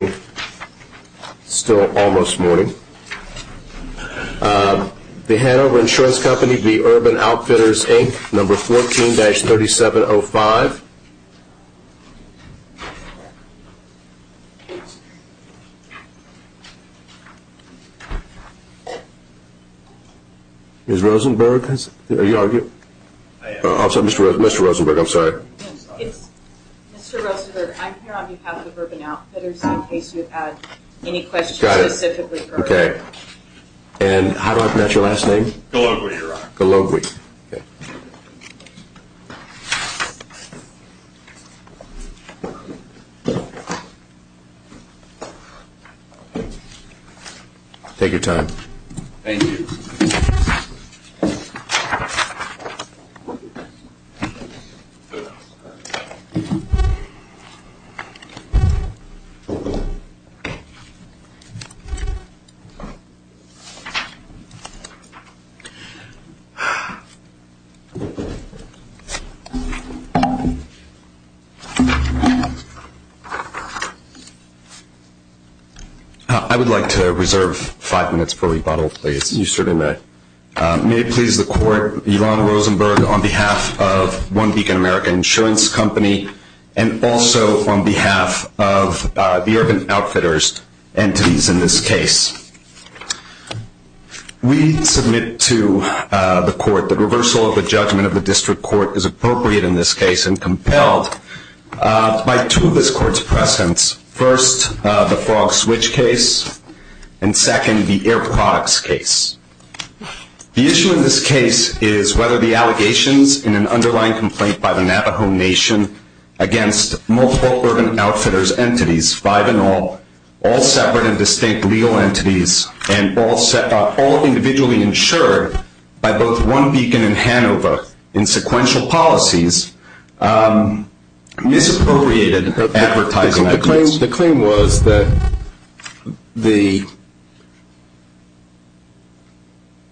It's still almost morning. The Hanover Insurance Company v. Urban Outfitters, INC, number 14-3705. Ms. Rosenberg? Mr. Rosenberg, I'm sorry. Mr. Rosenberg, I'm here on behalf of Urban Outfitters in case you had any questions specifically for her. Okay. And how do I pronounce your last name? Gologwi, Your Honor. Gologwi. Okay. Take your time. Thank you. I would like to reserve five minutes for rebuttal, please. You certainly may. May it please the court, Yvonne Rosenberg on behalf of One Beacon American Insurance Company and also on behalf of the Urban Outfitters entities in this case. We submit to the court that reversal of the judgment of the district court is appropriate in this case and compelled by two of this court's precedents. First, the Frog Switch case, and second, the Air Products case. The issue in this case is whether the allegations in an underlying complaint by the Navajo Nation against multiple Urban Outfitters entities, five in all, all separate and distinct legal entities, and all individually insured by both One Beacon and Hanover in sequential policies, misappropriated advertising activities. The claim was that the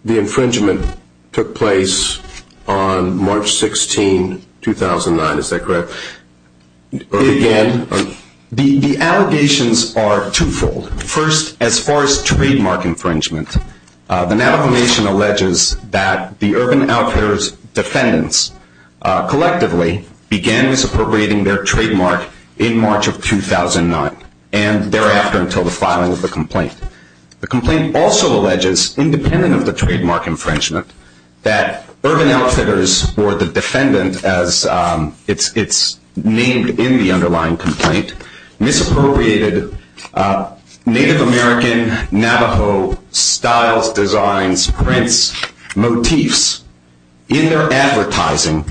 infringement took place on March 16, 2009. Is that correct? Again, the allegations are twofold. First, as far as trademark infringement, the Navajo Nation alleges that the Urban Outfitters defendants collectively began misappropriating their trademark in March of 2009 and thereafter until the filing of the complaint. The complaint also alleges, independent of the trademark infringement, that Urban Outfitters, or the defendant as it's named in the underlying complaint, misappropriated Native American Navajo styles, designs, prints, motifs in their advertising.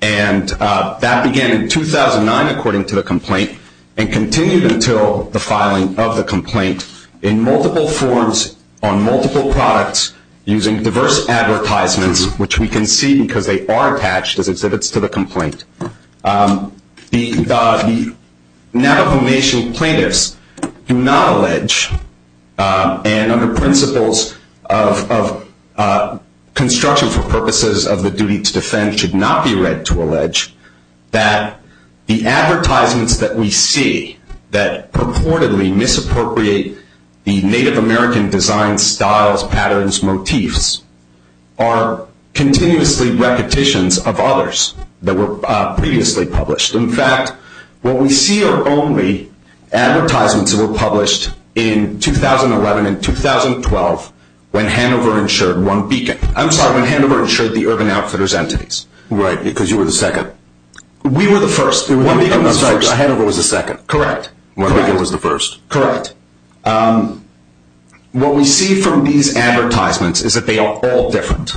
And that began in 2009, according to the complaint, and continued until the filing of the complaint in multiple forms on multiple products using diverse advertisements, which we can see because they are attached as exhibits to the complaint. The Navajo Nation plaintiffs do not allege, and under principles of construction for purposes of the duty to defend, should not be read to allege, that the advertisements that we see that purportedly misappropriate the Native American designs, styles, patterns, motifs are continuously repetitions of others that were previously published. In fact, what we see are only advertisements that were published in 2011 and 2012 when Hanover insured One Beacon. I'm sorry, when Hanover insured the Urban Outfitters entities. Right, because you were the second. We were the first. One Beacon was first. Hanover was the second. Correct. One Beacon was the first. Correct. What we see from these advertisements is that they are all different.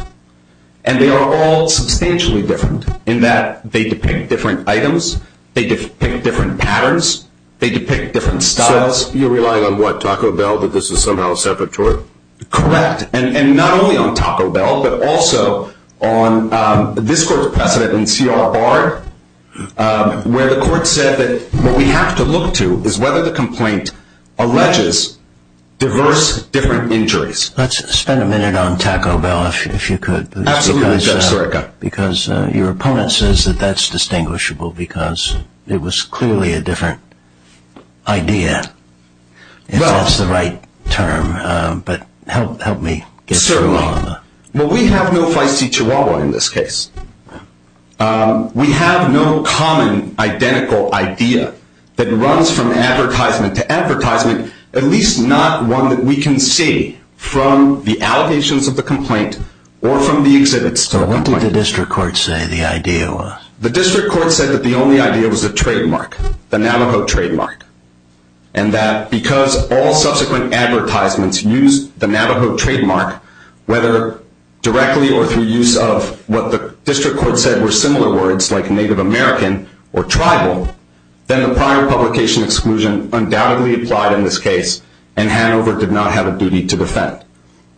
And they are all substantially different in that they depict different items. They depict different patterns. They depict different styles. So you're relying on what, Taco Bell, that this is somehow separate to it? Correct. And not only on Taco Bell, but also on this court's precedent in CRR, where the court said that what we have to look to is whether the complaint alleges diverse, different injuries. Let's spend a minute on Taco Bell, if you could. Absolutely. Go for it. Because your opponent says that that's distinguishable because it was clearly a different idea, if that's the right term. But help me get through all of that. Certainly. Well, we have no feisty chihuahua in this case. We have no common, identical idea that runs from advertisement to advertisement, at least not one that we can see from the allegations of the complaint or from the exhibits to the complaint. So what did the district court say the idea was? The district court said that the only idea was the trademark, the Navajo trademark, and that because all subsequent advertisements use the Navajo trademark, whether directly or through use of what the district court said were similar words, like Native American or tribal, then the prior publication exclusion undoubtedly applied in this case and Hanover did not have a duty to defend.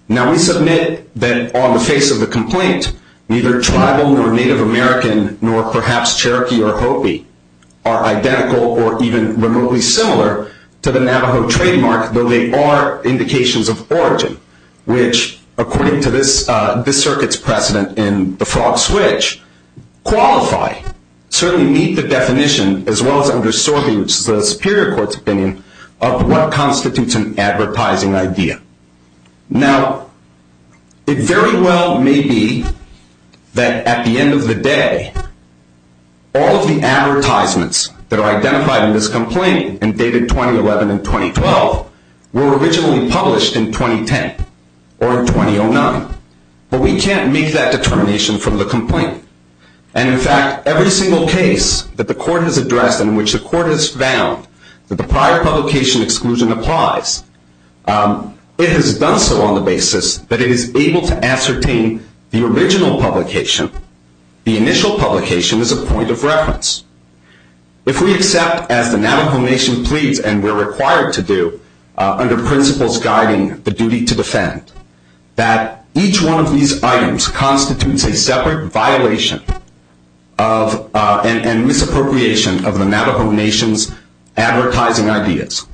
Now, we submit that on the face of the complaint, neither tribal nor Native American nor perhaps Cherokee or Hopi are identical or even remotely similar to the Navajo trademark, though they are indications of origin, which, according to this circuit's precedent in the frog switch, qualify, certainly meet the definition, as well as under Sorby, which is the superior court's opinion, of what constitutes an advertising idea. Now, it very well may be that at the end of the day, all of the advertisements that are identified in this complaint and dated 2011 and 2012 were originally published in 2010 or in 2009, but we can't make that determination from the complaint. And, in fact, every single case that the court has addressed in which the court has found that the prior publication exclusion applies, it has done so on the basis that it is able to ascertain the original publication, the initial publication is a point of reference. If we accept, as the Navajo Nation pleads and we're required to do, under principles guiding the duty to defend, that each one of these items constitutes a separate violation and misappropriation of the Navajo Nation's advertising ideas,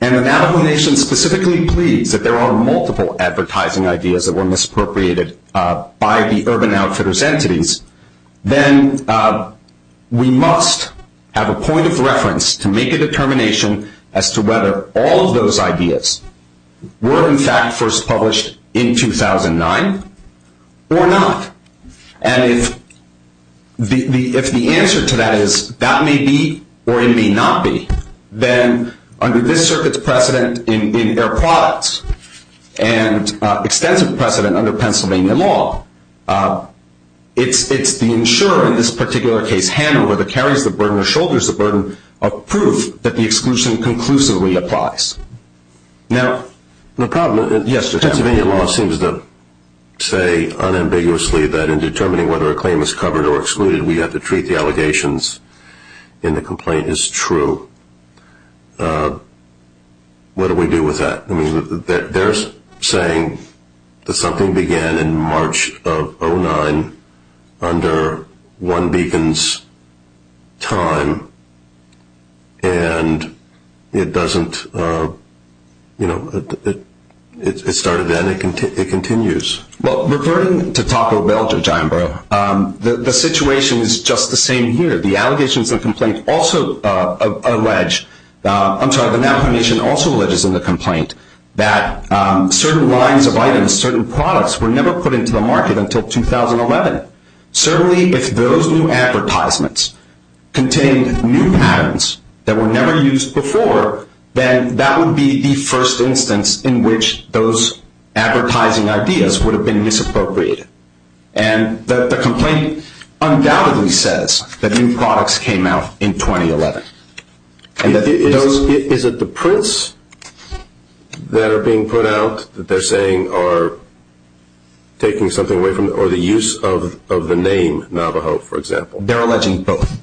and the Navajo Nation specifically pleads that there are multiple advertising ideas that were misappropriated by the Urban Outfitters entities, then we must have a point of reference to make a determination as to whether all of those ideas were, in fact, first published in 2009 or not. And if the answer to that is that may be or it may not be, then under this circuit's precedent in air products and extensive precedent under Pennsylvania law, it's the insurer in this particular case, Hanna, whether it carries the burden or shoulders the burden of proof that the exclusion conclusively applies. Now, the problem is Pennsylvania law seems to say unambiguously that in determining whether a claim is covered or excluded, we have to treat the allegations in the complaint as true. What do we do with that? I mean, they're saying that something began in March of 2009 under one beacon's time and it doesn't, you know, it started then, it continues. Well, reverting to Taco Bell, Judge Iambro, the situation is just the same here. The allegations in the complaint also allege, I'm sorry, the Navajo Nation also alleges in the complaint that certain lines of items, certain products were never put into the market until 2011. Certainly, if those new advertisements contained new patterns that were never used before, then that would be the first instance in which those advertising ideas would have been misappropriated. And the complaint undoubtedly says that new products came out in 2011. Is it the prints that are being put out that they're saying are taking something away from, or the use of the name Navajo, for example? They're alleging both.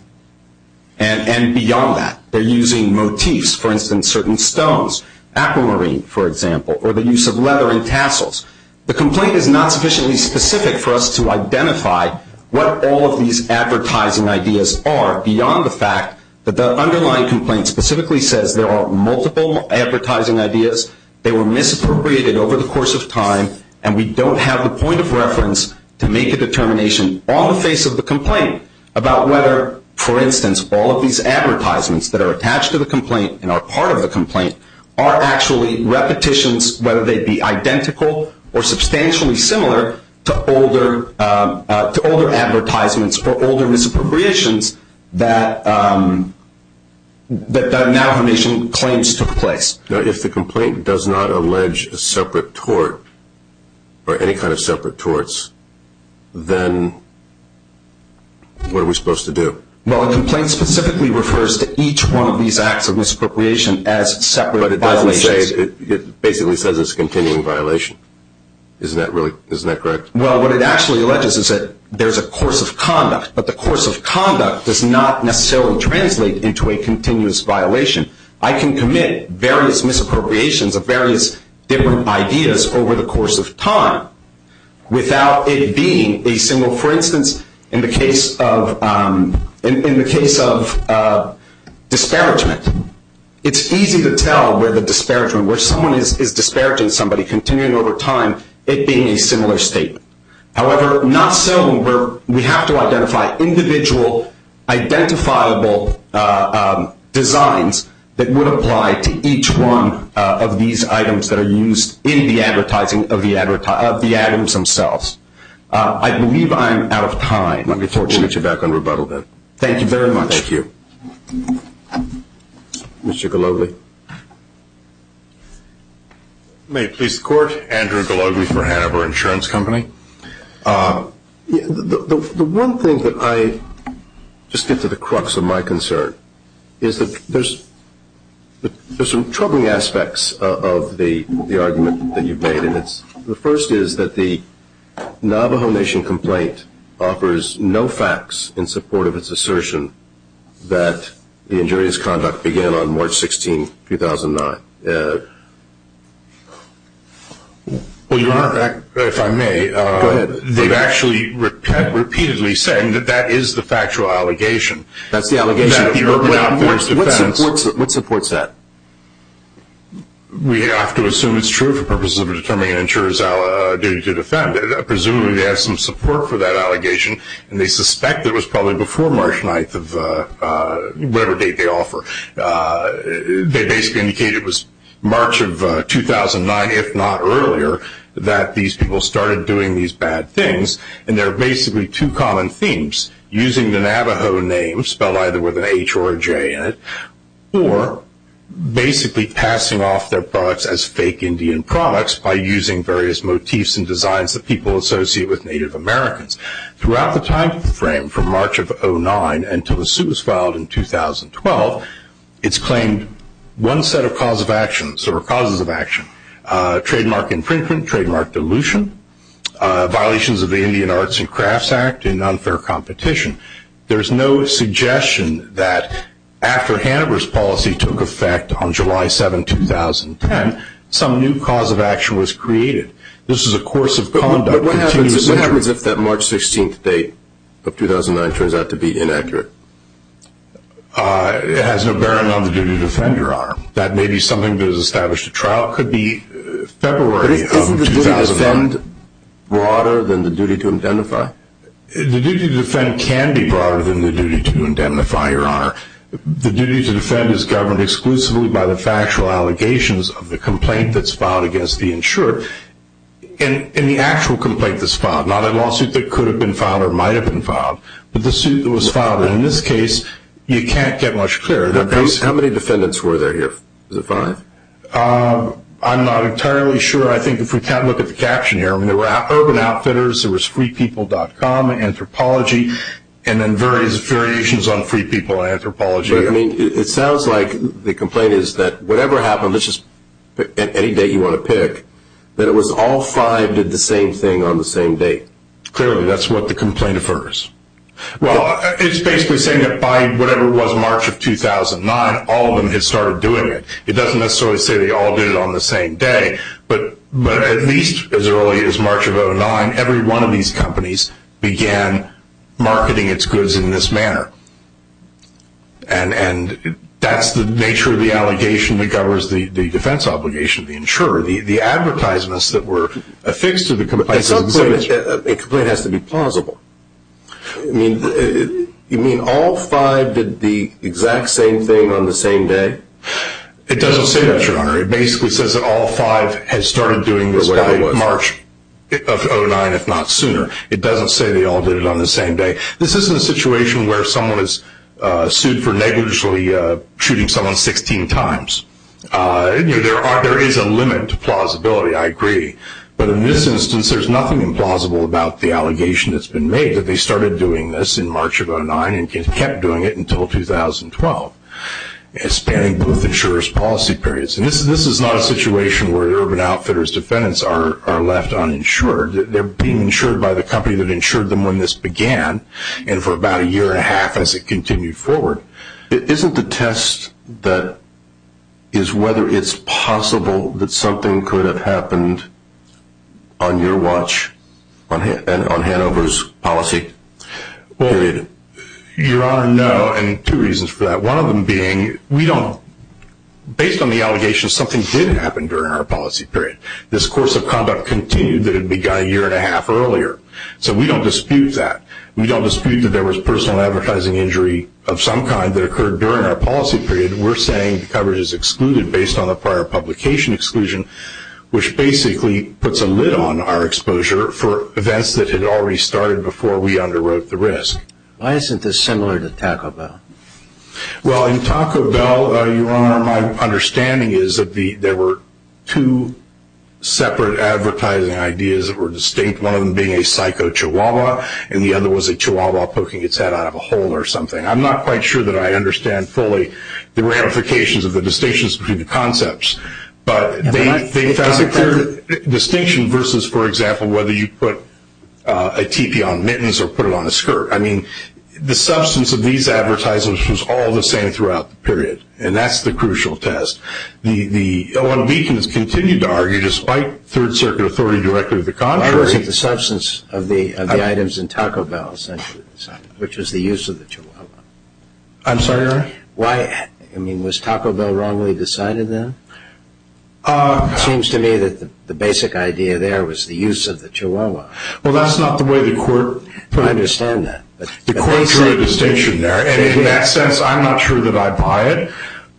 And beyond that, they're using motifs, for instance, certain stones, aquamarine, for example, or the use of leather and tassels. The complaint is not sufficiently specific for us to identify what all of these advertising ideas are, beyond the fact that the underlying complaint specifically says there are multiple advertising ideas, they were misappropriated over the course of time, and we don't have the point of reference to make a determination on the face of the complaint about whether, for instance, all of these advertisements that are attached to the complaint and are part of the complaint are actually repetitions, whether they be identical or substantially similar to older advertisements or older misappropriations that the Navajo Nation claims took place. Now, if the complaint does not allege a separate tort or any kind of separate torts, then what are we supposed to do? Well, a complaint specifically refers to each one of these acts of misappropriation as separate violations. But it doesn't say, it basically says it's a continuing violation. Isn't that correct? Well, what it actually alleges is that there's a course of conduct, but the course of conduct does not necessarily translate into a continuous violation. I can commit various misappropriations of various different ideas over the course of time without it being a single, for instance, in the case of disparagement, it's easy to tell where the disparagement, where someone is disparaging somebody, continuing over time, it being a similar statement. However, not so where we have to identify individual identifiable designs that would apply to each one of these items that are used in the advertising of the items themselves. I believe I am out of time. Let me forward you back on rebuttal then. Thank you very much. Thank you. Mr. Gologly. Thank you. May it please the Court. Andrew Gologly for Hanover Insurance Company. The one thing that I just get to the crux of my concern is that there's some troubling aspects of the argument that you've made, and the first is that the Navajo Nation complaint offers no facts in support of its assertion that the injurious conduct began on March 16, 2009. Well, Your Honor, if I may. Go ahead. They've actually repeatedly said that that is the factual allegation. That's the allegation. What supports that? We have to assume it's true for purposes of determining an insurer's duty to defend. Presumably they have some support for that allegation, and they suspect it was probably before March 9th of whatever date they offer. They basically indicate it was March of 2009, if not earlier, that these people started doing these bad things, and there are basically two common themes, using the Navajo name, spelled either with an H or a J in it, or basically passing off their products as fake Indian products by using various motifs and designs that people associate with Native Americans. Throughout the time frame from March of 2009 until the suit was filed in 2012, it's claimed one set of causes of action, trademark infringement, trademark dilution, violations of the Indian Arts and Crafts Act, and unfair competition. There's no suggestion that after Hanover's policy took effect on July 7, 2010, some new cause of action was created. This is a course of conduct. But what happens if that March 16th date of 2009 turns out to be inaccurate? It has no bearing on the duty to defend your arm. That may be something that is established at trial. It could be February of 2009. But isn't the duty to defend broader than the duty to identify? The duty to defend can be broader than the duty to indemnify your arm. The duty to defend is governed exclusively by the factual allegations of the complaint that's filed against the insured and the actual complaint that's filed, not a lawsuit that could have been filed or might have been filed, but the suit that was filed. And in this case, you can't get much clearer than this. How many defendants were there here? Was it five? I'm not entirely sure. I think if we look at the caption here, there were Urban Outfitters, there was FreePeople.com, Anthropology, and then various variations on Free People, Anthropology. It sounds like the complaint is that whatever happened, let's just pick any date you want to pick, that it was all five did the same thing on the same date. Clearly, that's what the complaint affirms. Well, it's basically saying that by whatever was March of 2009, all of them had started doing it. It doesn't necessarily say they all did it on the same day. But at least as early as March of 2009, every one of these companies began marketing its goods in this manner. And that's the nature of the allegation that governs the defense obligation of the insurer, the advertisements that were affixed to the complaint. At some point, a complaint has to be plausible. You mean all five did the exact same thing on the same day? It doesn't say that, Your Honor. It basically says that all five had started doing this by March of 2009, if not sooner. It doesn't say they all did it on the same day. This isn't a situation where someone is sued for negligently shooting someone 16 times. There is a limit to plausibility, I agree. But in this instance, there's nothing implausible about the allegation that's been made that they started doing this in March of 2009 and kept doing it until 2012, spanning both insurer's policy periods. This is not a situation where Urban Outfitters defendants are left uninsured. They're being insured by the company that insured them when this began, and for about a year and a half as it continued forward. Isn't the test that is whether it's possible that something could have happened on your watch, on Hanover's policy period? Your Honor, no. And two reasons for that. One of them being we don't, based on the allegations, something did happen during our policy period. This course of conduct continued that had begun a year and a half earlier. So we don't dispute that. We don't dispute that there was personal advertising injury of some kind that occurred during our policy period. We're saying the coverage is excluded based on the prior publication exclusion, which basically puts a lid on our exposure for events that had already started before we underwrote the risk. Why isn't this similar to Taco Bell? Well, in Taco Bell, Your Honor, my understanding is that there were two separate advertising ideas that were distinct, one of them being a psycho chihuahua, and the other was a chihuahua poking its head out of a hole or something. I'm not quite sure that I understand fully the ramifications of the distinctions between the concepts, but they found a clear distinction versus, for example, whether you put a teepee on mittens or put it on a skirt. I mean, the substance of these advertisements was all the same throughout the period, and that's the crucial test. The OMB can continue to argue, despite Third Circuit authority directly to the contrary. I wasn't the substance of the items in Taco Bell, essentially, which was the use of the chihuahua. I'm sorry, Your Honor? Why? I mean, was Taco Bell wrongly decided then? It seems to me that the basic idea there was the use of the chihuahua. Well, that's not the way the court put it. I don't understand that. The court drew a distinction there, and in that sense, I'm not sure that I buy it,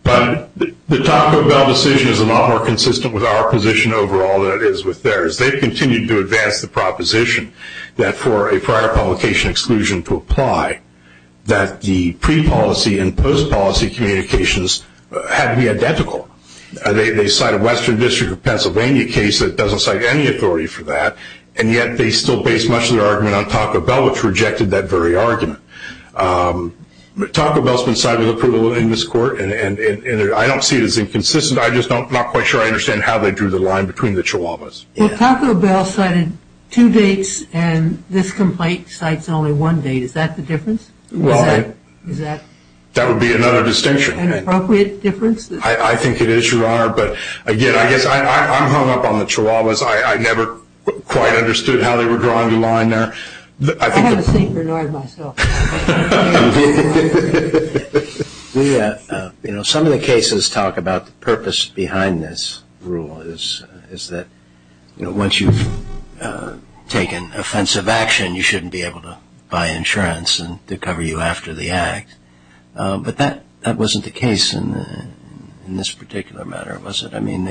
but the Taco Bell decision is a lot more consistent with our position overall than it is with theirs. They've continued to advance the proposition that for a prior publication exclusion to apply, that the pre-policy and post-policy communications had to be identical. They cite a Western District of Pennsylvania case that doesn't cite any authority for that, and yet they still base much of their argument on Taco Bell, which rejected that very argument. Taco Bell's been cited with approval in this court, and I don't see it as inconsistent. I'm just not quite sure I understand how they drew the line between the chihuahuas. Well, Taco Bell cited two dates, and this complaint cites only one date. Is that the difference? Well, that would be another distinction. An appropriate difference? I think it is, Your Honor, but, again, I guess I'm hung up on the chihuahuas. I never quite understood how they were drawing the line there. I have a seat for Norris myself. Some of the cases talk about the purpose behind this rule is that once you've taken offensive action, you shouldn't be able to buy insurance to cover you after the act, but that wasn't the case in this particular matter, was it? I mean,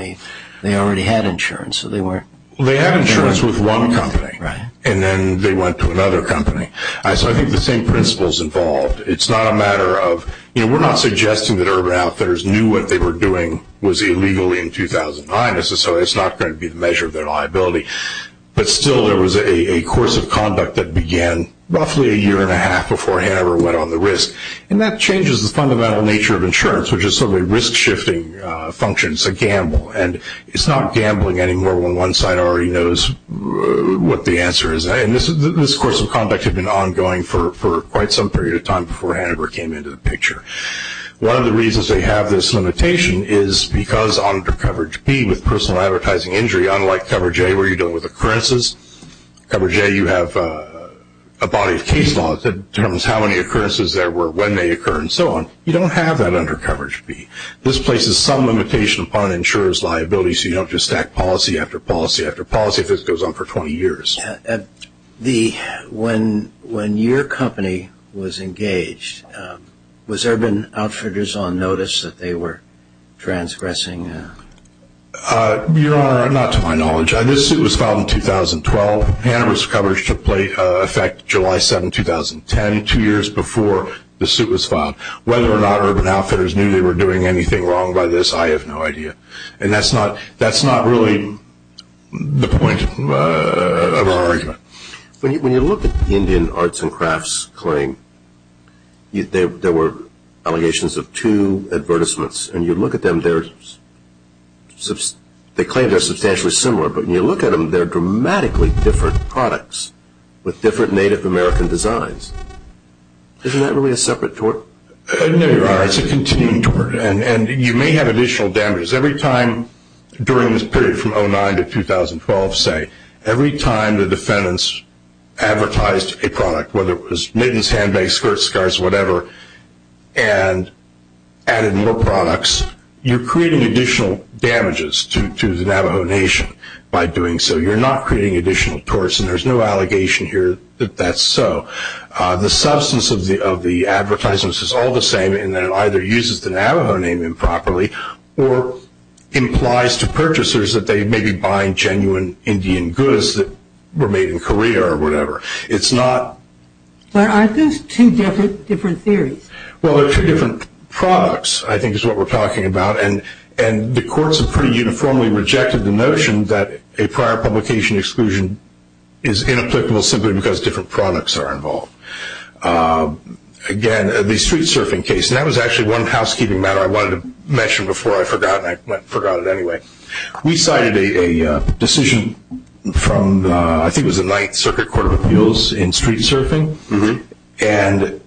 they already had insurance. They had insurance with one company, and then they went to another company. So I think the same principle is involved. It's not a matter of we're not suggesting that Urban Outfitters knew what they were doing was illegal in 2009, so it's not going to be the measure of their liability, but still there was a course of conduct that began roughly a year and a half before Hanover went on the risk, and that changes the fundamental nature of insurance, which is sort of a risk-shifting function. It's a gamble, and it's not gambling anymore when one side already knows what the answer is, and this course of conduct had been ongoing for quite some period of time before Hanover came into the picture. One of the reasons they have this limitation is because under coverage B with personal advertising injury, unlike coverage A where you're dealing with occurrences, coverage A you have a body of case law that determines how many occurrences there were, when they occur, and so on. You don't have that under coverage B. This places some limitation upon an insurer's liability, so you don't just stack policy after policy after policy if this goes on for 20 years. When your company was engaged, was Urban Outfitters on notice that they were transgressing? Your Honor, not to my knowledge. This suit was filed in 2012. Hanover's coverage took effect July 7, 2010, two years before the suit was filed. Whether or not Urban Outfitters knew they were doing anything wrong by this, I have no idea, and that's not really the point of our argument. When you look at the Indian Arts and Crafts claim, there were allegations of two advertisements, and you look at them, they claim they're substantially similar, but when you look at them, they're dramatically different products with different Native American designs. Isn't that really a separate tort? No, Your Honor, it's a continuing tort, and you may have additional damages. Every time during this period from 2009 to 2012, say, every time the defendants advertised a product, whether it was mittens, handbags, skirt scarves, whatever, and added more products, you're creating additional damages to the Navajo Nation by doing so. You're not creating additional torts, and there's no allegation here that that's so. The substance of the advertisements is all the same, and it either uses the Navajo name improperly or implies to purchasers that they may be buying genuine Indian goods that were made in Korea or whatever. But aren't those two different theories? Well, they're two different products, I think is what we're talking about, and the courts have pretty uniformly rejected the notion that a prior publication exclusion is inapplicable simply because different products are involved. Again, the street surfing case, and that was actually one housekeeping matter I wanted to mention before I forgot, and I forgot it anyway. We cited a decision from I think it was the Ninth Circuit Court of Appeals in street surfing, and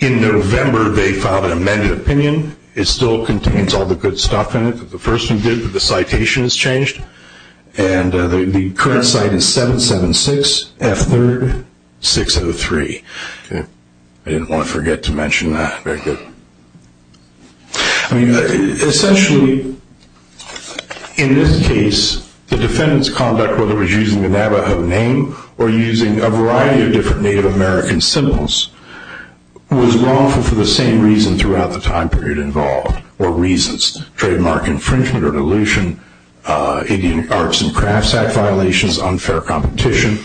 in November they filed an amended opinion. It still contains all the good stuff in it that the first one did, but the citation has changed, and the current site is 776 F3rd 603. I didn't want to forget to mention that. Very good. Essentially, in this case, the defendant's conduct, whether it was using the Navajo name or using a variety of different Native American symbols, was wrongful for the same reasons throughout the time period involved, or reasons, trademark infringement or dilution, Indian Arts and Crafts Act violations, unfair competition.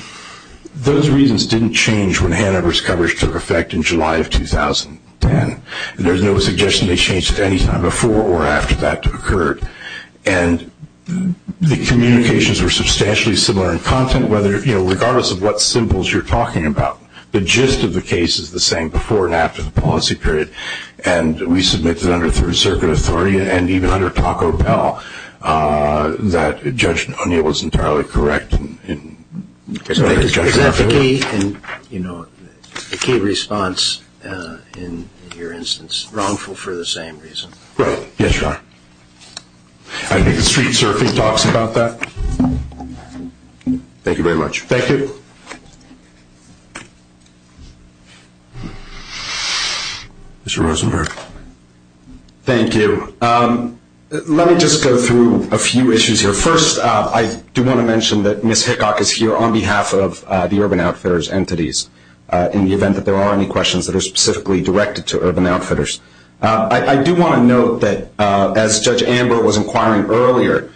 Those reasons didn't change when Hannaver's coverage took effect in July of 2010, and there's no suggestion they changed at any time before or after that occurred. And the communications were substantially similar in content, regardless of what symbols you're talking about. The gist of the case is the same before and after the policy period, and we submitted under Third Circuit authority and even under Taco Bell that Judge O'Neill was entirely correct. Is that the key response in your instance, wrongful for the same reason? Right. Yes, Your Honor. I think the street surfing talks about that. Thank you very much. Thank you. Mr. Rosenberg. Thank you. Let me just go through a few issues here. First, I do want to mention that Ms. Hickock is here on behalf of the Urban Outfitters entities, in the event that there are any questions that are specifically directed to Urban Outfitters. I do want to note that as Judge Amber was inquiring earlier,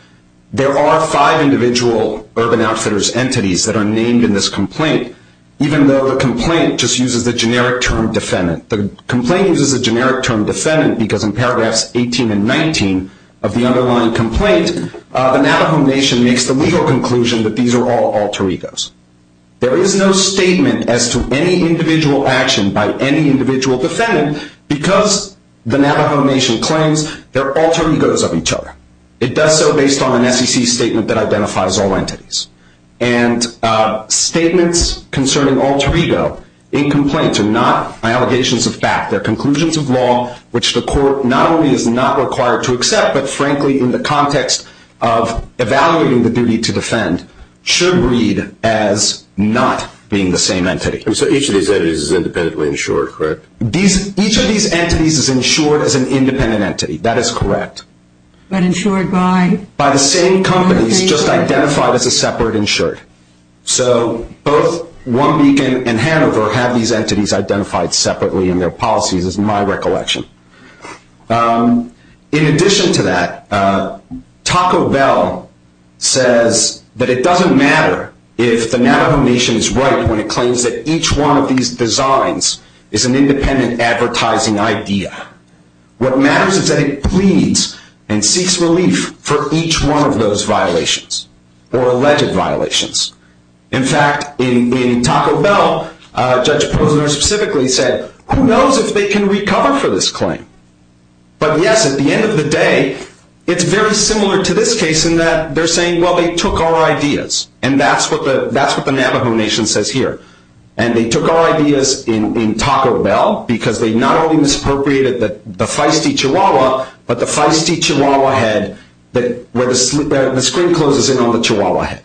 there are five individual Urban Outfitters entities that are named in this complaint, even though the complaint just uses the generic term defendant. The complaint uses the generic term defendant because in paragraphs 18 and 19 of the underlying complaint, the Navajo Nation makes the legal conclusion that these are all alter egos. There is no statement as to any individual action by any individual defendant because the Navajo Nation claims they're alter egos of each other. It does so based on an SEC statement that identifies all entities. And statements concerning alter ego in complaints are not allegations of fact. They're conclusions of law, which the court not only is not required to accept, but frankly in the context of evaluating the duty to defend, should read as not being the same entity. So each of these entities is independently insured, correct? Each of these entities is insured as an independent entity. That is correct. But insured by? By the same companies, just identified as a separate insured. So both One Beacon and Hanover have these entities identified separately in their policies, is my recollection. In addition to that, Taco Bell says that it doesn't matter if the Navajo Nation is right when it claims that each one of these designs is an independent advertising idea. What matters is that it pleads and seeks relief for each one of those violations or alleged violations. In fact, in Taco Bell, Judge Posner specifically said, who knows if they can recover for this claim? But yes, at the end of the day, it's very similar to this case in that they're saying, well, they took our ideas. And that's what the Navajo Nation says here. And they took our ideas in Taco Bell because they not only misappropriated the feisty chihuahua, but the feisty chihuahua head where the screen closes in on the chihuahua head.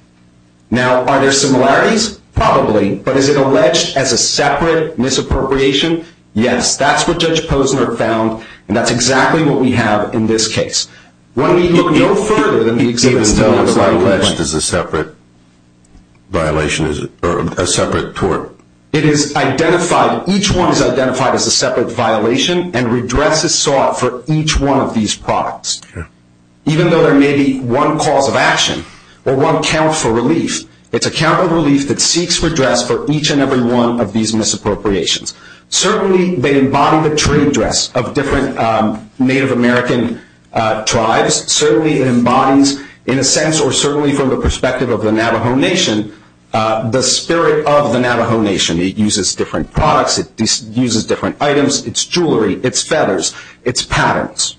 Now, are there similarities? Probably. But is it alleged as a separate misappropriation? Yes, that's what Judge Posner found. And that's exactly what we have in this case. When we look no further than the exhibit still has alleged as a separate violation or a separate tort. It is identified. Each one is identified as a separate violation and redress is sought for each one of these products. Even though there may be one cause of action or one count for relief, it's a count of relief that seeks redress for each and every one of these misappropriations. Certainly they embody the trade dress of different Native American tribes. Certainly it embodies, in a sense or certainly from the perspective of the Navajo Nation, the spirit of the Navajo Nation. It uses different products. It uses different items. It's jewelry. It's feathers. It's patterns.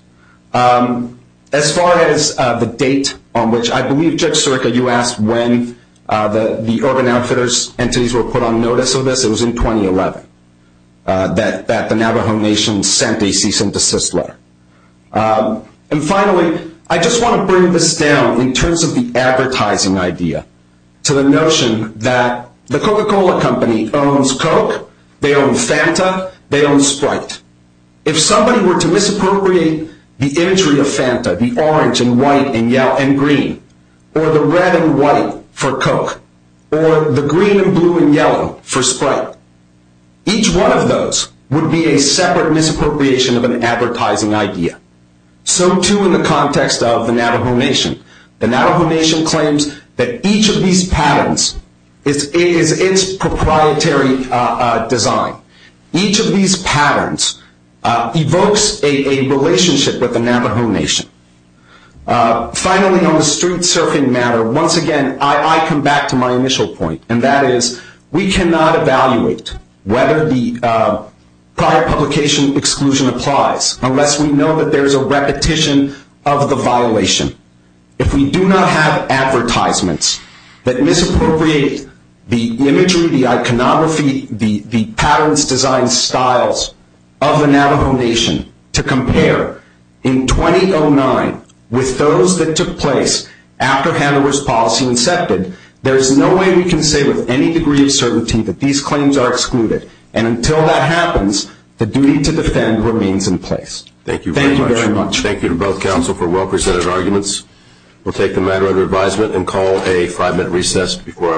As far as the date on which I believe, Judge Sirica, you asked when the Urban Outfitters entities were put on notice of this. It was in 2011 that the Navajo Nation sent a cease and desist letter. And finally, I just want to bring this down in terms of the advertising idea to the notion that the Coca-Cola Company owns Coke, they own Fanta, they own Sprite. If somebody were to misappropriate the imagery of Fanta, the orange and white and green, or the red and white for Coke, or the green and blue and yellow for Sprite, each one of those would be a separate misappropriation of an advertising idea. So too in the context of the Navajo Nation. The Navajo Nation claims that each of these patterns is its proprietary design. Each of these patterns evokes a relationship with the Navajo Nation. Finally, on the street surfing matter, once again, I come back to my initial point, and that is we cannot evaluate whether the prior publication exclusion applies unless we know that there is a repetition of the violation. If we do not have advertisements that misappropriate the imagery, the iconography, the patterns, designs, styles of the Navajo Nation to compare in 2009 with those that took place after Hanover's policy incepted, there is no way we can say with any degree of certainty that these claims are excluded. And until that happens, the duty to defend remains in place. Thank you very much. Thank you to both counsel for well-presented arguments. We'll take the matter under advisement and call a five-minute recess before I let you go.